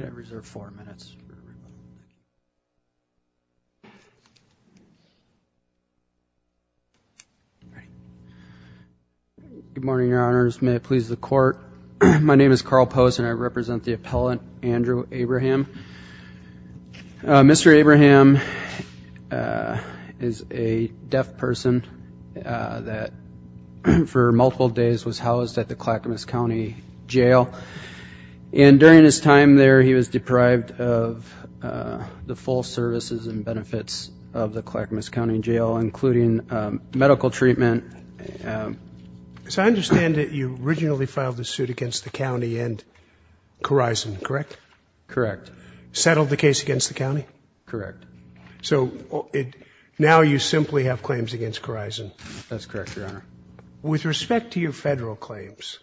Good morning, Your Honors. May it please the Court, my name is Carl Post and I represent the appellant, Andrew Abraham. Mr. Abraham is a deaf person that for multiple days was housed at the Clackamas County Jail and during his time there he was deprived of the full services and benefits of the Clackamas County Jail including medical treatment. So I understand that you originally filed the suit against the county and Corizon, correct? Correct. Settled the case against the county? Correct. So now you simply have claims against Corizon? That's correct, Your Honor. With respect to your federal claims,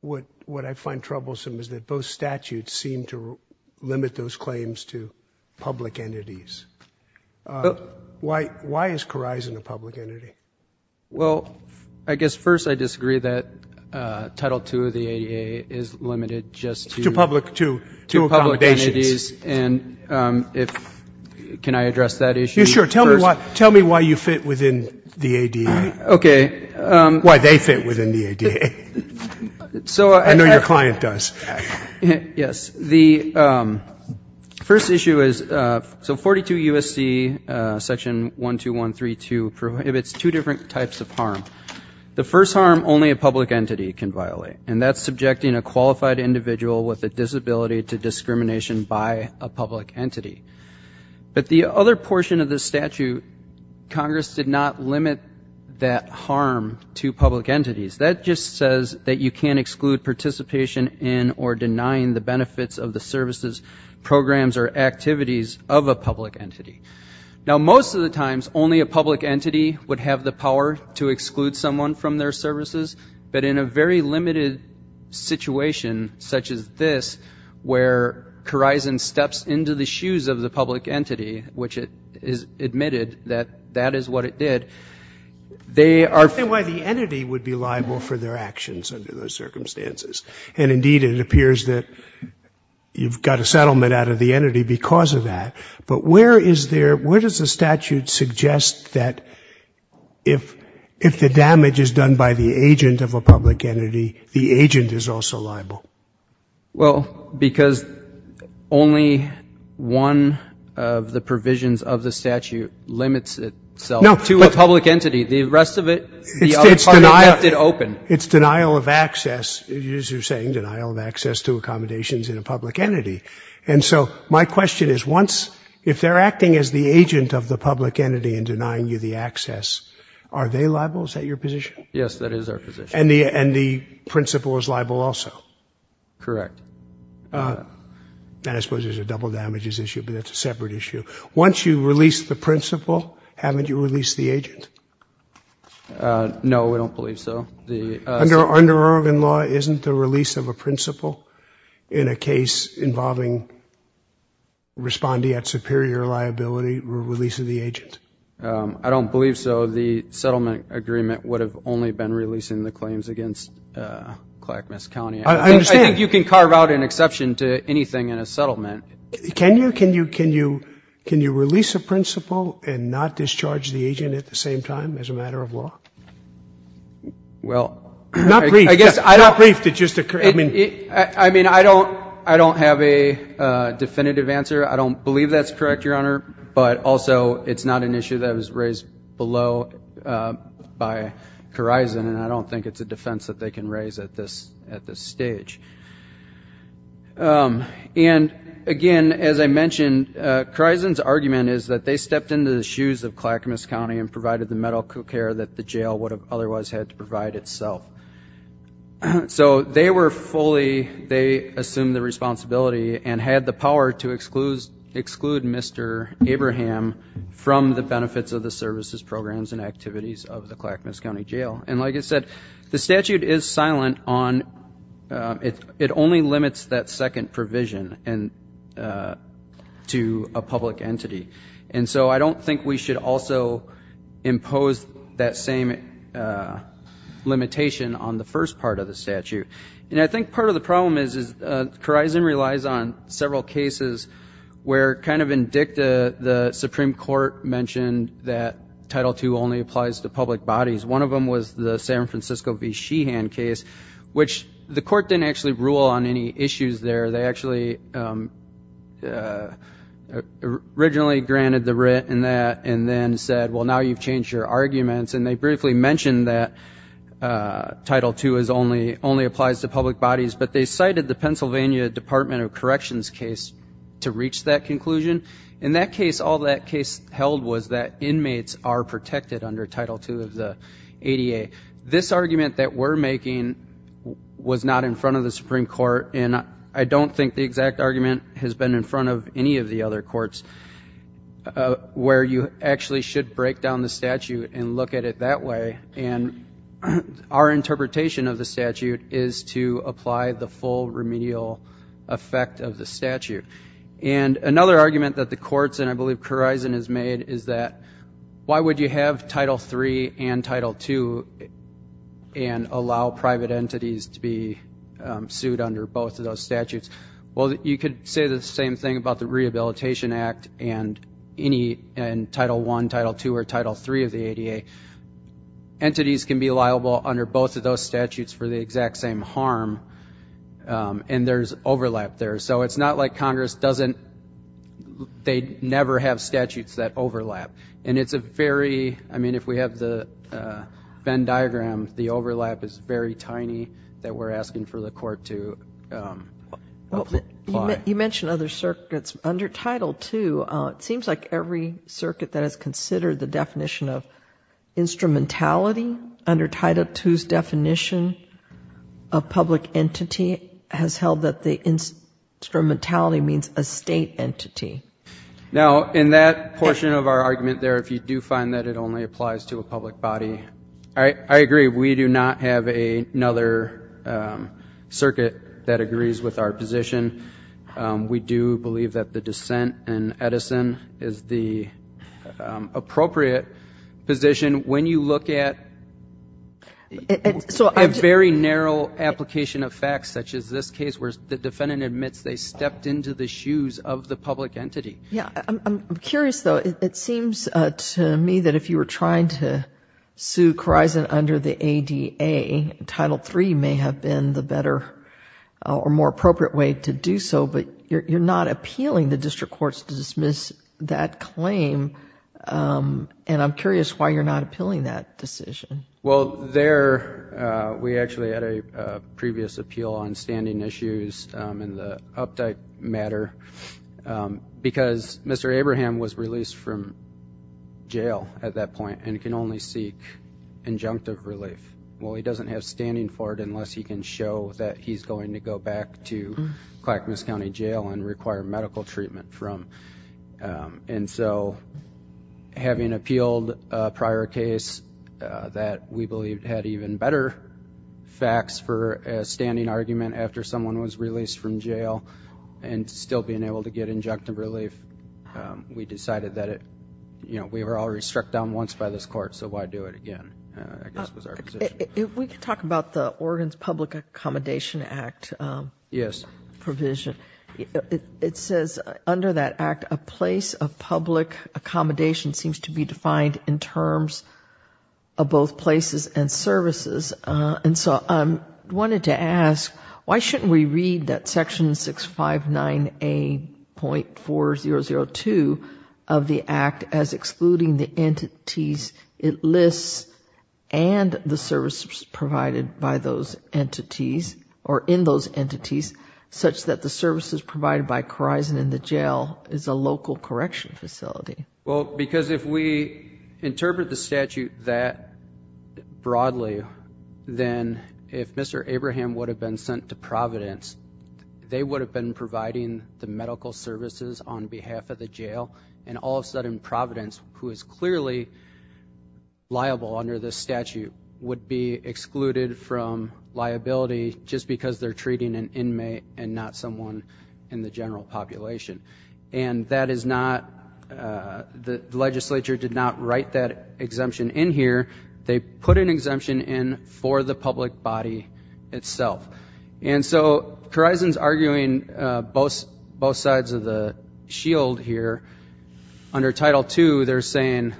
what I find troublesome is that both statutes seem to limit those claims to public entities. Why is Corizon a public entity? Well, I guess first I disagree that Title II of the ADA is limited just to public entities. Can I address that issue? You sure. Tell me why you fit within the ADA, why they fit within the ADA. I know your client does. Yes. The first issue is, so 42 U.S.C. section 12132 prohibits two different types of harm. The first harm only a public entity can violate and that's subjecting a qualified individual with a disability to discrimination by a public entity. But the other portion of the statute, Congress did not limit that harm to public entities. That just says that you can't exclude participation in or denying the benefits of the services, programs or activities of a public entity. Now most of the times only a public entity would have the power to exclude someone from their services, but in a very limited situation such as this where Corizon steps into the shoes of the public entity, which it is admitted that that is what it did, they are I understand why the entity would be liable for their actions under those circumstances. And indeed it appears that you've got a settlement out of the entity because of that. But where is there, where does the statute suggest that if the damage is done by the agent of a public entity, the agent is also liable? Well because only one of the provisions of the statute limits itself to a public entity. The rest of it, the other part of it left it open. It's denial of access, as you're saying, denial of access to accommodations in a public entity. And so my question is once, if they're acting as the agent of the public entity and denying you the access, are they liable? Is that your position? Yes, that is our position. And the principal is liable also? Correct. I suppose there's a double damages issue, but that's a separate issue. Once you release the principal, haven't you released the agent? No, we don't believe so. Under Oregon law, isn't the release of a principal in a case involving respondee at superior liability, release of the agent? I don't believe so. The settlement agreement would have only been releasing the claims against Clackamas County. I think you can carve out an exception to anything in a settlement. Can you release a principal and not discharge the agent at the same time as a matter of law? Well, I guess I don't have a definitive answer. I don't believe that's correct, Your Honor. But also, it's not an issue that was raised below by Corizon, and I don't think it's a defense that they can raise at this stage. And again, as I mentioned, Corizon's argument is that they stepped into the shoes of Clackamas County and provided the medical care that the jail would have otherwise had to provide itself. So they assumed the responsibility and had the power to exclude Mr. Abraham from the benefits of the services, programs, and activities of the Clackamas County Jail. And like I said, the statute is silent on, it only limits that second provision to a public entity. And so I don't think we should also impose that same limitation on the first part of the statute. And I think part of the problem is Corizon relies on several cases where kind of in dicta, the Supreme Court mentioned that Title II only applies to public bodies. One of them was the San Francisco v. Sheehan case, which the court didn't actually rule on any issues there. They actually originally granted the writ in that and then said, well now you've changed your arguments, and they briefly mentioned that Title II only applies to public bodies. But they cited the Pennsylvania Department of Corrections case to reach that conclusion. In that case, all that case held was that inmates are protected under Title II of the ADA. This argument that we're making was not in front of the Supreme Court, and I don't think the exact argument has been in front of any of the other courts, where you actually should break down the statute and look at it that way. And our interpretation of the statute is to apply the full remedial effect of the statute. And another argument that the courts, and I believe Corizon has made, is that why would you have Title III and Title II and allow private entities to be sued under both of those statutes? Well, you could say the same thing about the Rehabilitation Act and Title I, Title II, or Title III of the ADA. Entities can be liable under both of those statutes for the exact same harm, and there's overlap there. So it's not like Congress doesn't, they never have statutes that overlap. And it's a very, I mean, if we have the Venn diagram, the overlap is very tiny that we're asking for the court to apply. You mentioned other circuits. Under Title II, it seems like every circuit that has considered the definition of instrumentality under Title II's definition of public entity has held that the instrumentality means a state entity. Now, in that portion of our argument there, if you do find that it only applies to a public body, I agree. We do not have another circuit that agrees with our position. We do believe that the dissent in Edison is the appropriate position. And when you look at a very narrow application of facts such as this case, where the defendant admits they stepped into the shoes of the public entity. Yeah, I'm curious though, it seems to me that if you were trying to sue Khorizant under the ADA, Title III may have been the better or more appropriate way to do so. But you're not appealing the district courts to dismiss that claim. And I'm curious why you're not appealing that decision. Well, there we actually had a previous appeal on standing issues in the update matter. Because Mr. Abraham was released from jail at that point and can only seek injunctive relief. Well, he doesn't have standing for it unless he can show that he's going to go back to Clackamas County Jail and require medical treatment from. And so having appealed a prior case that we believe had even better facts for a standing argument after someone was released from jail and still being able to get injunctive relief. We decided that it, we were already struck down once by this court, so why do it again, I guess was our position. If we could talk about the Oregon's Public Accommodation Act. Yes. Provision, it says under that act, a place of public accommodation seems to be defined in terms of both places and services. And so I wanted to ask, why shouldn't we read that section 659A.4002 of the act as excluding the entities it lists and the services provided by those entities or in those entities. Such that the services provided by Corison in the jail is a local correction facility. Well, because if we interpret the statute that broadly, then if Mr. Abraham would have been sent to Providence, they would have been providing the medical services on behalf of the jail. And all of a sudden, Providence, who is clearly liable under this statute, would be excluded from liability just because they're treating an inmate and not someone in the general population. And that is not, the legislature did not write that exemption in here. They put an exemption in for the public body itself. And so, Corison's arguing both sides of the shield here. Under Title II, they're saying,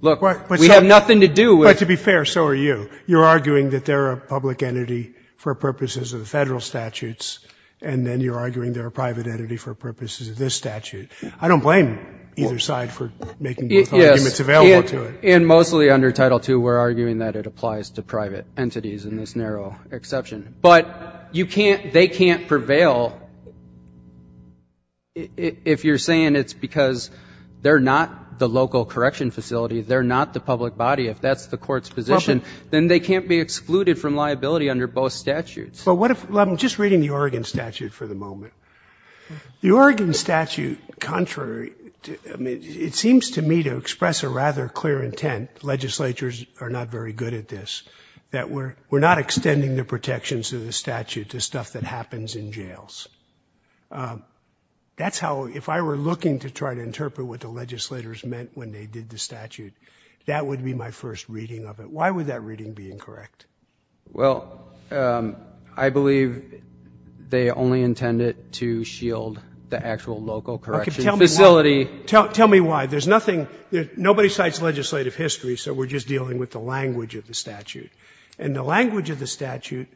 look, we have nothing to do with- But to be fair, so are you. You're arguing that they're a public entity for purposes of the federal statutes. And then you're arguing they're a private entity for purposes of this statute. I don't blame either side for making both arguments available to it. And mostly under Title II, we're arguing that it applies to private entities in this narrow exception. But they can't prevail if you're saying it's because they're not the local correction facility, they're not the public body. If that's the court's position, then they can't be excluded from liability under both statutes. Well, I'm just reading the Oregon statute for the moment. The Oregon statute, contrary, it seems to me to express a rather clear intent. Legislatures are not very good at this. That we're not extending the protections of the statute to stuff that happens in jails. That's how, if I were looking to try to interpret what the legislators meant when they did the statute, that would be my first reading of it. Why would that reading be incorrect? Well, I believe they only intended to shield the actual local correction facility. Tell me why. There's nothing, nobody cites legislative history, so we're just dealing with the language of the statute. And the language of the statute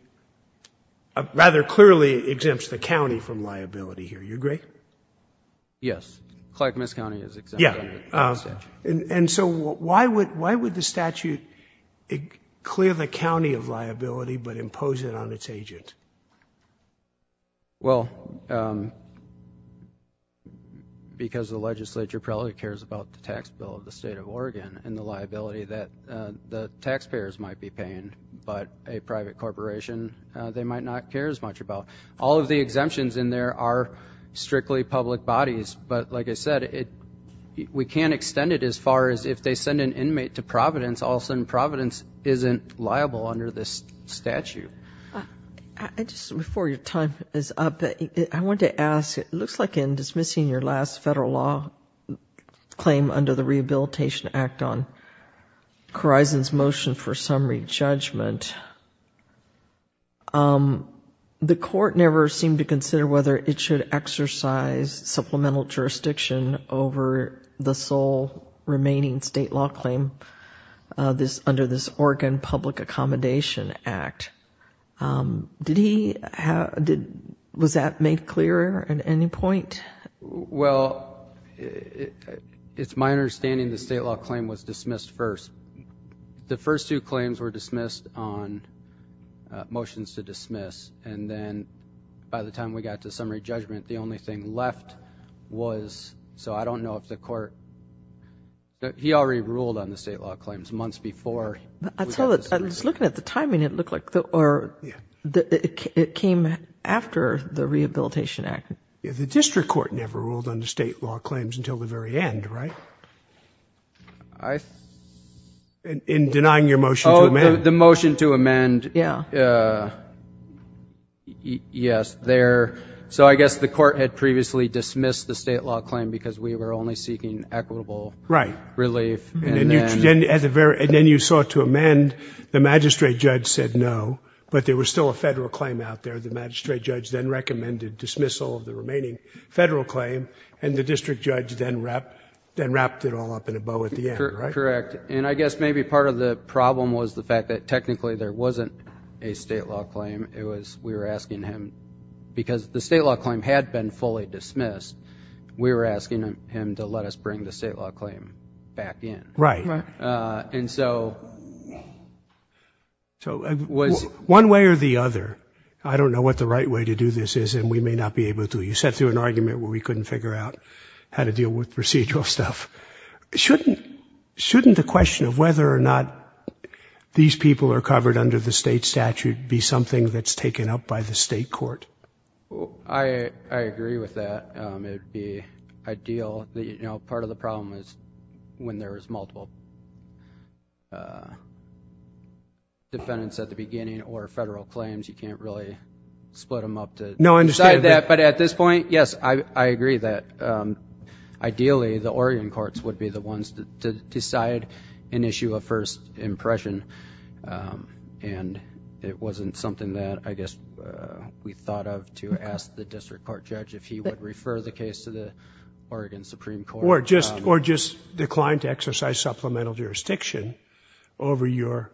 rather clearly exempts the county from liability here. You agree? Yes. Clark-Miss County is exempted from the statute. And so why would the statute clear the county of liability but impose it on its agent? Well, because the legislature probably cares about the tax bill of the state of Oregon and the liability that the taxpayers might be paying. But a private corporation, they might not care as much about. All of the exemptions in there are strictly public bodies. But like I said, we can't extend it as far as if they send an inmate to Providence, all of a sudden Providence isn't liable under this statute. Just before your time is up, I wanted to ask, it looks like in dismissing your last federal law claim under the Rehabilitation Act on Corizon's motion for summary judgment, the court never seemed to consider whether it should exercise supplemental jurisdiction over the sole remaining state law claim under this Oregon Public Accommodation Act. Was that made clearer at any point? Well, it's my understanding the state law claim was dismissed first. The first two claims were dismissed on motions to dismiss, and then by the time we got to summary judgment, the only thing left was, so I don't know if the court... he already ruled on the state law claims months before... I was looking at the timing, it looked like it came after the Rehabilitation Act. The district court never ruled on the state law claims until the very end, right? I... In denying your motion to amend. Oh, the motion to amend, yes, there... so I guess the court had previously dismissed the state law claim because we were only seeking equitable relief, and then... And then you sought to amend, the magistrate judge said no, but there was still a federal claim out there. The magistrate judge then recommended dismissal of the remaining federal claim, and the district judge then wrapped it all up in a bow at the end, right? Correct. I guess maybe part of the problem was the fact that technically there wasn't a state law claim. It was, we were asking him... because the state law claim had been fully dismissed, we were asking him to let us bring the state law claim back in. Right. Right. So... I don't know what the right way to do this is, and we may not be able to. You set through an argument where we couldn't figure out how to deal with procedural stuff. Shouldn't... shouldn't the question of whether or not these people are covered under the state statute be something that's taken up by the state court? I... I agree with that. It would be ideal that, you know, part of the problem is when there is multiple defendants at the beginning or federal claims, you can't really split them up to... No, I understand...... decide that, but at this point, yes, I agree that ideally the Oregon courts would be the ones to decide an issue of first impression, and it wasn't something that I guess we thought of to ask the district court judge if he would refer the case to the Oregon Supreme Court. Or just... or just decline to exercise supplemental jurisdiction over your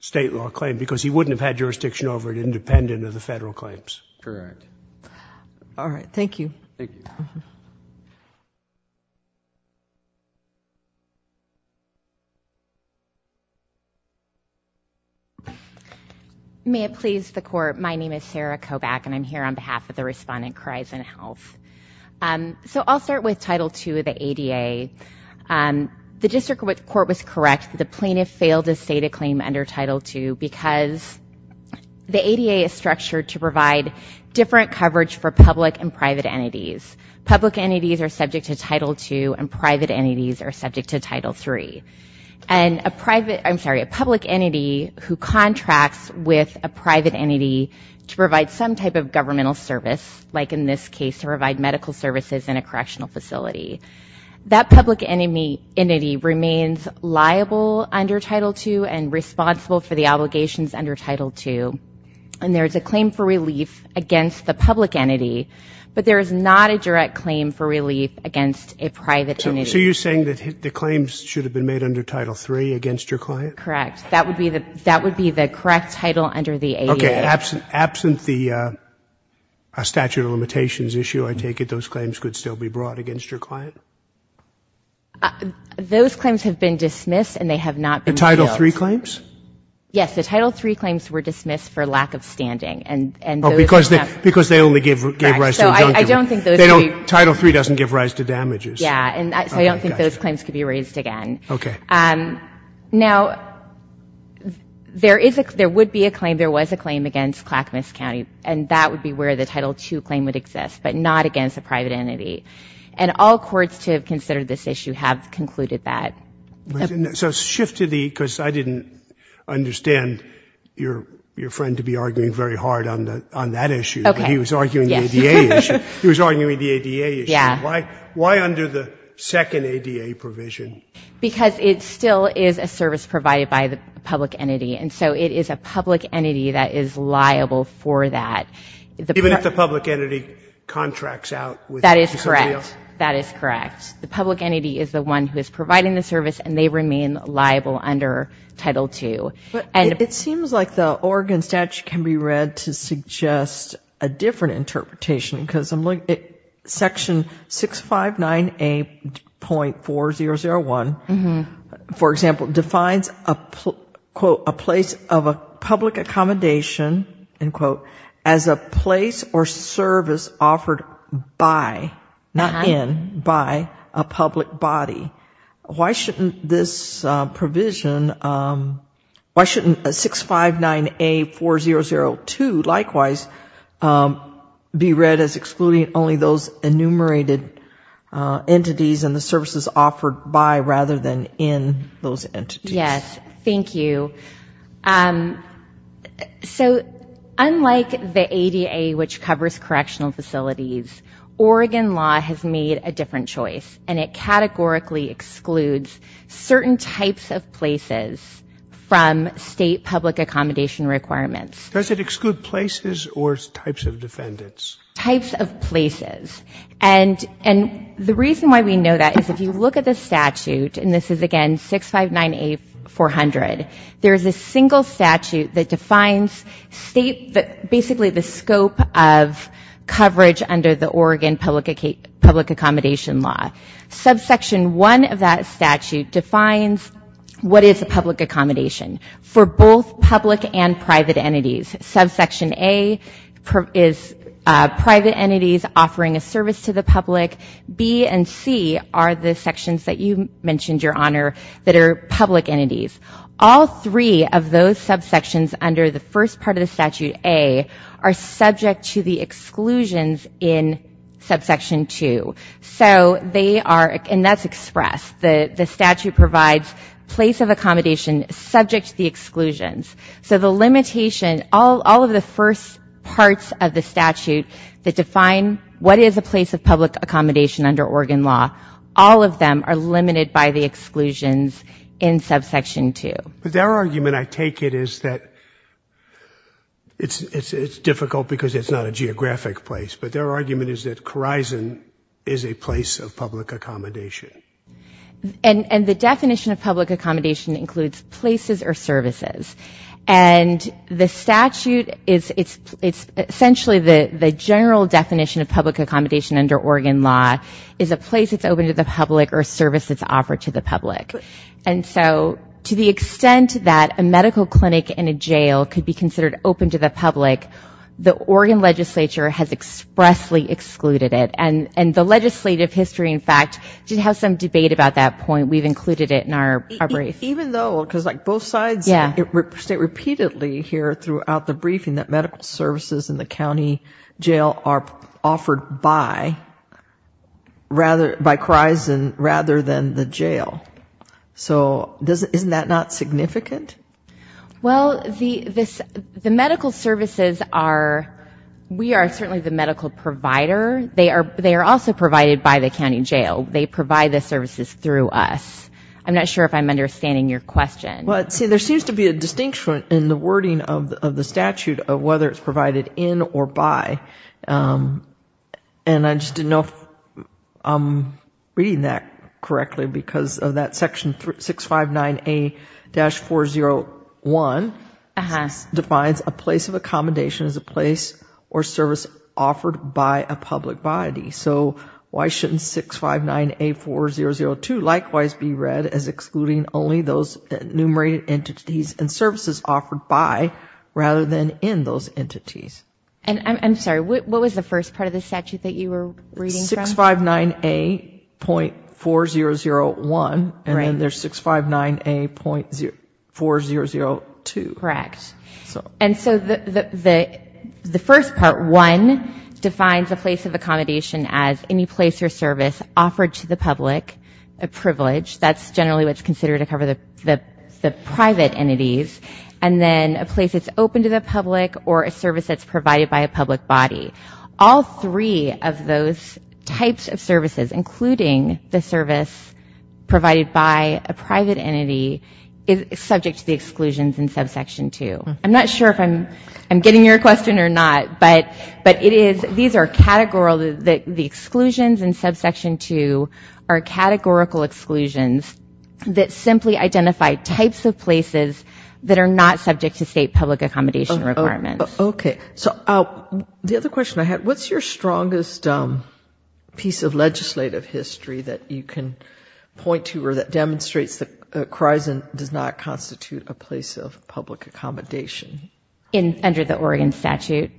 state law claim, because he wouldn't have had jurisdiction over it independent of the federal claims. Correct. All right. Thank you. Thank you. May it please the Court, my name is Sarah Kobach, and I'm here on behalf of the Respondent Kreisenhoff. So, I'll start with Title II of the ADA. The district court was correct. The plaintiff failed to state a claim under Title II because the ADA is structured to provide different coverage for public and private entities. Public entities are subject to Title II, and private entities are subject to Title III. And a private... I'm sorry, a public entity who contracts with a private entity to provide some type of governmental service, like in this case to provide medical services in a correctional facility, that public entity remains liable under Title II and responsible for the obligations under Title II. And there is a claim for relief against the public entity, but there is not a direct claim for relief against a private entity. So, you're saying that the claims should have been made under Title III against your client? Correct. That would be the correct title under the ADA. Okay. Absent the statute of limitations issue, I take it, those claims could still be brought against your client? Those claims have been dismissed, and they have not been appealed. The Title III claims? Yes. The Title III claims were dismissed for lack of standing, and those... Oh, because they only gave rise to injunctive... Correct. So, I don't think those... They don't... Title III doesn't give rise to damages. Yeah. Okay. Gotcha. And so, I don't think those claims could be raised again. Okay. Now, there is a... there would be a claim... there was a claim against Clackamas County, and that would be where the Title II claim would exist, but not against a private entity. And all courts to have considered this issue have concluded that. So, shift to the... because I didn't understand your friend to be arguing very hard on that issue. Okay. He was arguing the ADA issue. Yes. He was arguing the ADA issue. Yeah. Why under the second ADA provision? Because it still is a service provided by the public entity. And so, it is a public entity that is liable for that. Even if the public entity contracts out with... That is correct. That is correct. The public entity is the one who is providing the service, and they remain liable under Title II. And... It seems like the Oregon statute can be read to suggest a different interpretation, because I am looking at section 659A.4001, for example, defines a place of a public accommodation as a place or service offered by, not in, by a public body. Why shouldn't this provision... why shouldn't 659A.4002, likewise, be read as excluding only those enumerated entities and the services offered by, rather than in, those entities? Yes. Thank you. So, unlike the ADA, which covers correctional facilities, Oregon law has made a different choice, and it categorically excludes certain types of places from state public accommodation requirements. Does it exclude places or types of defendants? Types of places. And the reason why we know that is, if you look at the statute, and this is, again, 659A.400, there is a single statute that defines state... basically, the scope of coverage under the Oregon Public Accommodation Law. Subsection 1 of that statute defines what is a public accommodation for both public and private entities. Subsection A is private entities offering a service to the public. B and C are the sections that you mentioned, Your Honor, that are public entities. All three of those subsections under the first part of the Statute A are subject to the exclusions in subsection 2. So they are... and that's expressed. The statute provides place of accommodation subject to the exclusions. So the limitation... all of the first parts of the statute that define what is a place of public accommodation under Oregon law, all of them are limited by the exclusions in subsection 2. But their argument, I take it, is that it's difficult because it's not a geographic place, but their argument is that Khorizon is a place of public accommodation. And the definition of public accommodation includes places or services. And the statute is... it's essentially the general definition of public accommodation under Oregon law is a place that's open to the public or a service that's offered to the public. And so to the extent that a medical clinic and a jail could be considered open to the public, we expressly excluded it. And the legislative history, in fact, did have some debate about that point. We've included it in our brief. Even though... because like both sides state repeatedly here throughout the briefing that medical services in the county jail are offered by Khorizon rather than the jail. So isn't that not significant? Well, the medical services are... we are certainly the medical provider. They are also provided by the county jail. They provide the services through us. I'm not sure if I'm understanding your question. Well, see, there seems to be a distinction in the wording of the statute of whether it's provided in or by. And I just didn't know if I'm reading that correctly because of that section 659A-401 defines a place of accommodation as a place or service offered by a public body. So why shouldn't 659A-4002 likewise be read as excluding only those enumerated entities and services offered by rather than in those entities? And I'm sorry, what was the first part of the statute that you were reading from? 659A-4001 and then there's 659A-4002. Correct. And so the first part, 1, defines a place of accommodation as any place or service offered to the public, a privilege, that's generally what's considered to cover the private entities, and then a place that's open to the public or a service that's provided by a public body. All three of those types of services, including the service provided by a private entity, is subject to the exclusions in subsection 2. I'm not sure if I'm getting your question or not, but these are categorical, the exclusions that are not subject to state public accommodation requirements. Okay. So the other question I had, what's your strongest piece of legislative history that you can point to or that demonstrates that Khorizon does not constitute a place of public accommodation? Under the Oregon statute.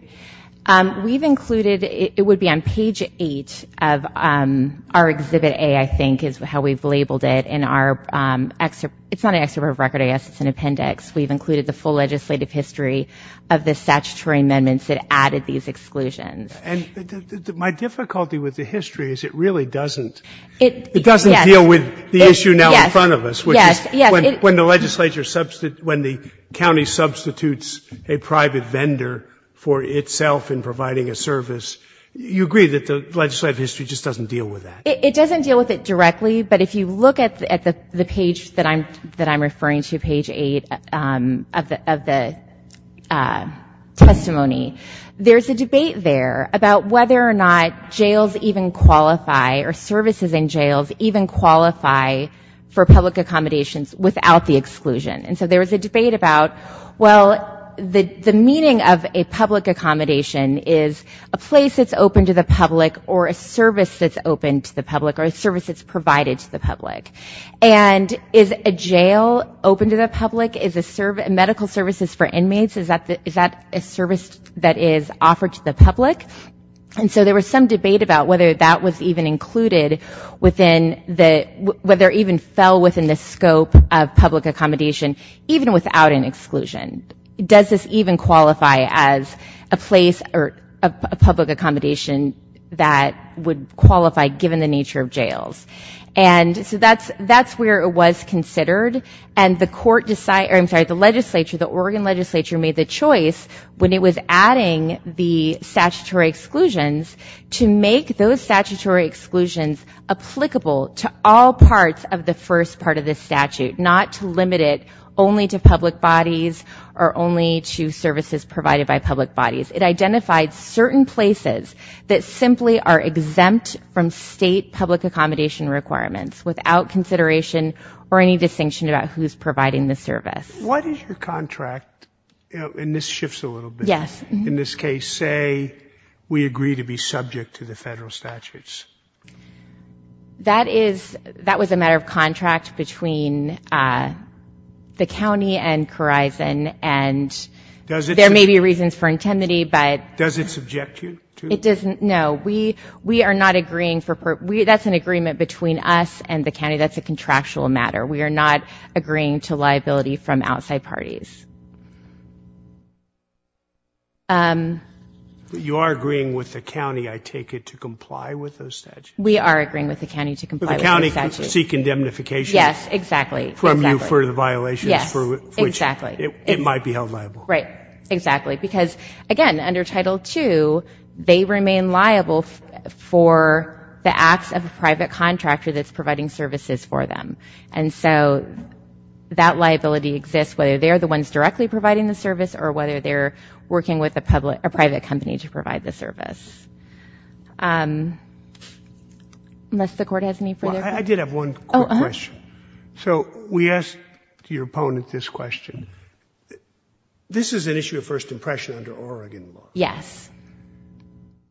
We've included, it would be on page 8 of our Exhibit A, I think is how we've labeled it, in our, it's not an Exhibit of Record, I guess it's an appendix. We've included the full legislative history of the statutory amendments that added these exclusions. And my difficulty with the history is it really doesn't, it doesn't deal with the issue now in front of us, which is when the legislature, when the county substitutes a private vendor for itself in providing a service, you agree that the legislative history just doesn't deal with that? It doesn't deal with it directly, but if you look at the page that I'm referring to, page 8 of the testimony, there's a debate there about whether or not jails even qualify or services in jails even qualify for public accommodations without the exclusion. And so there was a debate about, well, the meaning of a public accommodation is a place that's open to the public or a service that's open to the public or a service that's provided to the public. And is a jail open to the public? Is a medical services for inmates, is that a service that is offered to the public? And so there was some debate about whether that was even included within the, whether even fell within the scope of public accommodation, even without an exclusion. Does this even qualify as a place or a public accommodation that would qualify given the nature of jails? And so that's where it was considered. And the court decided, I'm sorry, the legislature, the Oregon legislature made the choice when it was adding the statutory exclusions to make those statutory exclusions applicable to all parts of the first part of this statute, not to limit it only to public bodies or only to services provided by public bodies. It identified certain places that simply are exempt from state public accommodation requirements without consideration or any distinction about who's providing the service. What is your contract? And this shifts a little bit. Yes. In this case, say we agree to be subject to the federal statutes. That is, that was a matter of contract between the county and Khorizon and there may be reasons for intimidate, but does it subject you to, it doesn't, no, we, we are not agreeing for part. We, that's an agreement between us and the county. That's a contractual matter. We are not agreeing to liability from outside parties. You are agreeing with the county. I take it to comply with those statutes. We are agreeing with the county to comply with the county seeking indemnification. Yes, exactly. From you for the violations for which it might be held liable, right? Exactly. Because, again, under Title II, they remain liable for the acts of a private contractor that's providing services for them. And so that liability exists whether they are the ones directly providing the service or whether they're working with a public, a private company to provide the service. Unless the Court has any further? I did have one quick question. So we asked your opponent this question. This is an issue of first impression under Oregon law. Yes.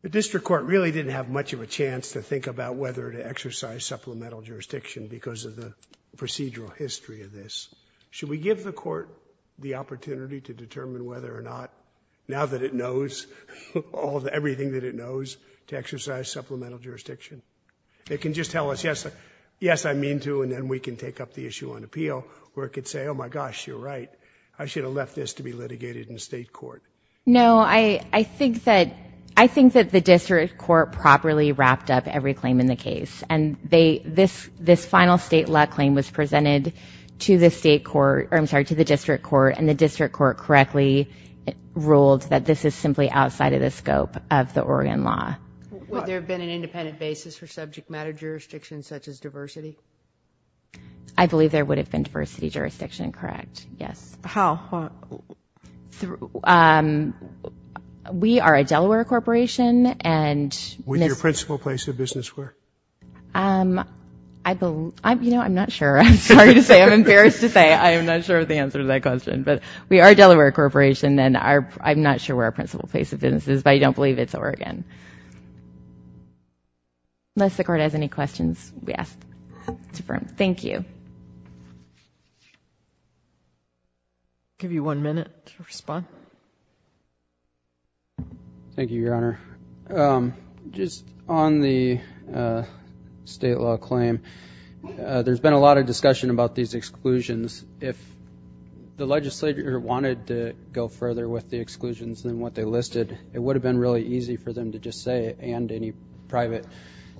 The district court really didn't have much of a chance to think about whether to exercise supplemental jurisdiction because of the procedural history of this. Should we give the court the opportunity to determine whether or not, now that it knows all the, everything that it knows, to exercise supplemental jurisdiction? They can just tell us, yes, yes, I mean to, and then we can take up the issue on appeal where it could say, oh my gosh, you're right, I should have left this to be litigated in the state court. No, I think that, I think that the district court properly wrapped up every claim in the case and they, this final state law claim was presented to the state court, I'm sorry, to the district court and the district court correctly ruled that this is simply outside of the scope of the Oregon law. Would there have been an independent basis for subject matter jurisdiction such as diversity? I believe there would have been diversity jurisdiction, correct, yes. How? Through, we are a Delaware corporation and... Would your principal place of business where? I believe, I'm, you know, I'm not sure, I'm sorry to say, I'm embarrassed to say, I'm not sure of the answer to that question, but we are a Delaware corporation and I'm not sure where our principal place of business is, but I don't believe it's Oregon. Unless the court has any questions, yes, it's a firm, thank you. I'll give you one minute to respond. Thank you, your honor. Just on the state law claim, there's been a lot of discussion about these exclusions. If the legislature wanted to go further with the exclusions than what they listed, it would have been really easy for them to just say, and any private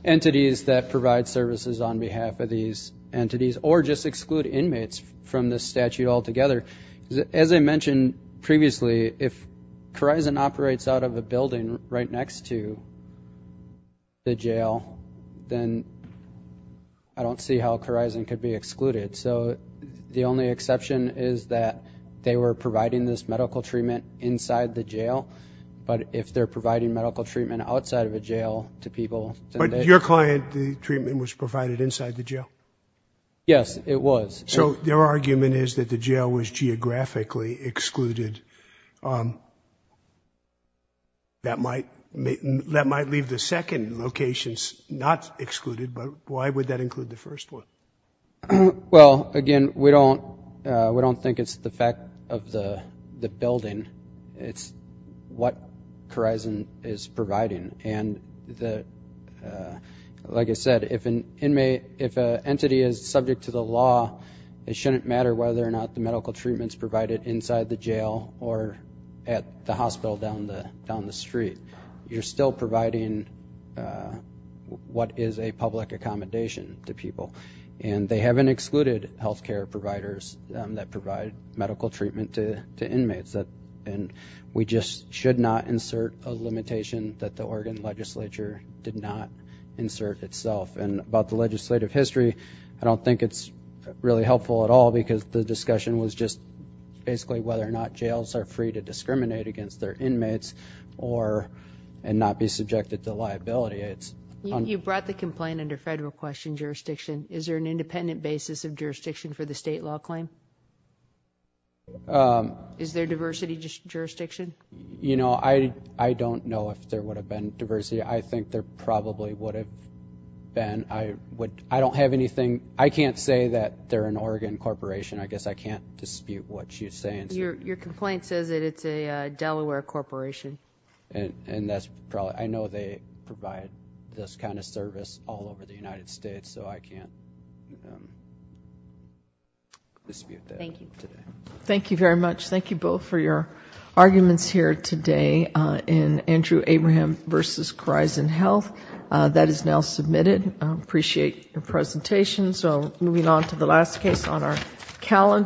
entities that provide services on behalf of these entities, or just exclude inmates from this statute altogether. As I mentioned previously, if Corizon operates out of a building right next to the jail, then I don't see how Corizon could be excluded. So the only exception is that they were providing this medical treatment inside the jail, but if they're providing medical treatment outside of a jail to people- But your client, the treatment was provided inside the jail? Yes, it was. So their argument is that the jail was geographically excluded. That might leave the second locations not excluded, but why would that include the first one? Well, again, we don't think it's the fact of the building. It's what Corizon is providing, and like I said, if an entity is subject to the law, it shouldn't matter whether or not the medical treatment's provided inside the jail or at the hospital down the street. You're still providing what is a public accommodation to people, and they haven't excluded health care providers that provide medical treatment to inmates. We just should not insert a limitation that the Oregon legislature did not insert itself. And about the legislative history, I don't think it's really helpful at all because the discussion was just basically whether or not jails are free to discriminate against their inmates and not be subjected to liability. You brought the complaint under federal question jurisdiction. Is there an independent basis of jurisdiction for the state law claim? Is there diversity jurisdiction? I don't know if there would have been diversity. I think there probably would have been. I don't have anything. I can't say that they're an Oregon corporation. I guess I can't dispute what you're saying. Your complaint says that it's a Delaware corporation. And I know they provide this kind of service all over the United States, so I can't dispute that. Thank you. Thank you very much. Thank you both for your arguments here today in Andrew Abraham v. Greisen Health. That is now submitted. I appreciate your presentation. So moving on to the last case on our calendar.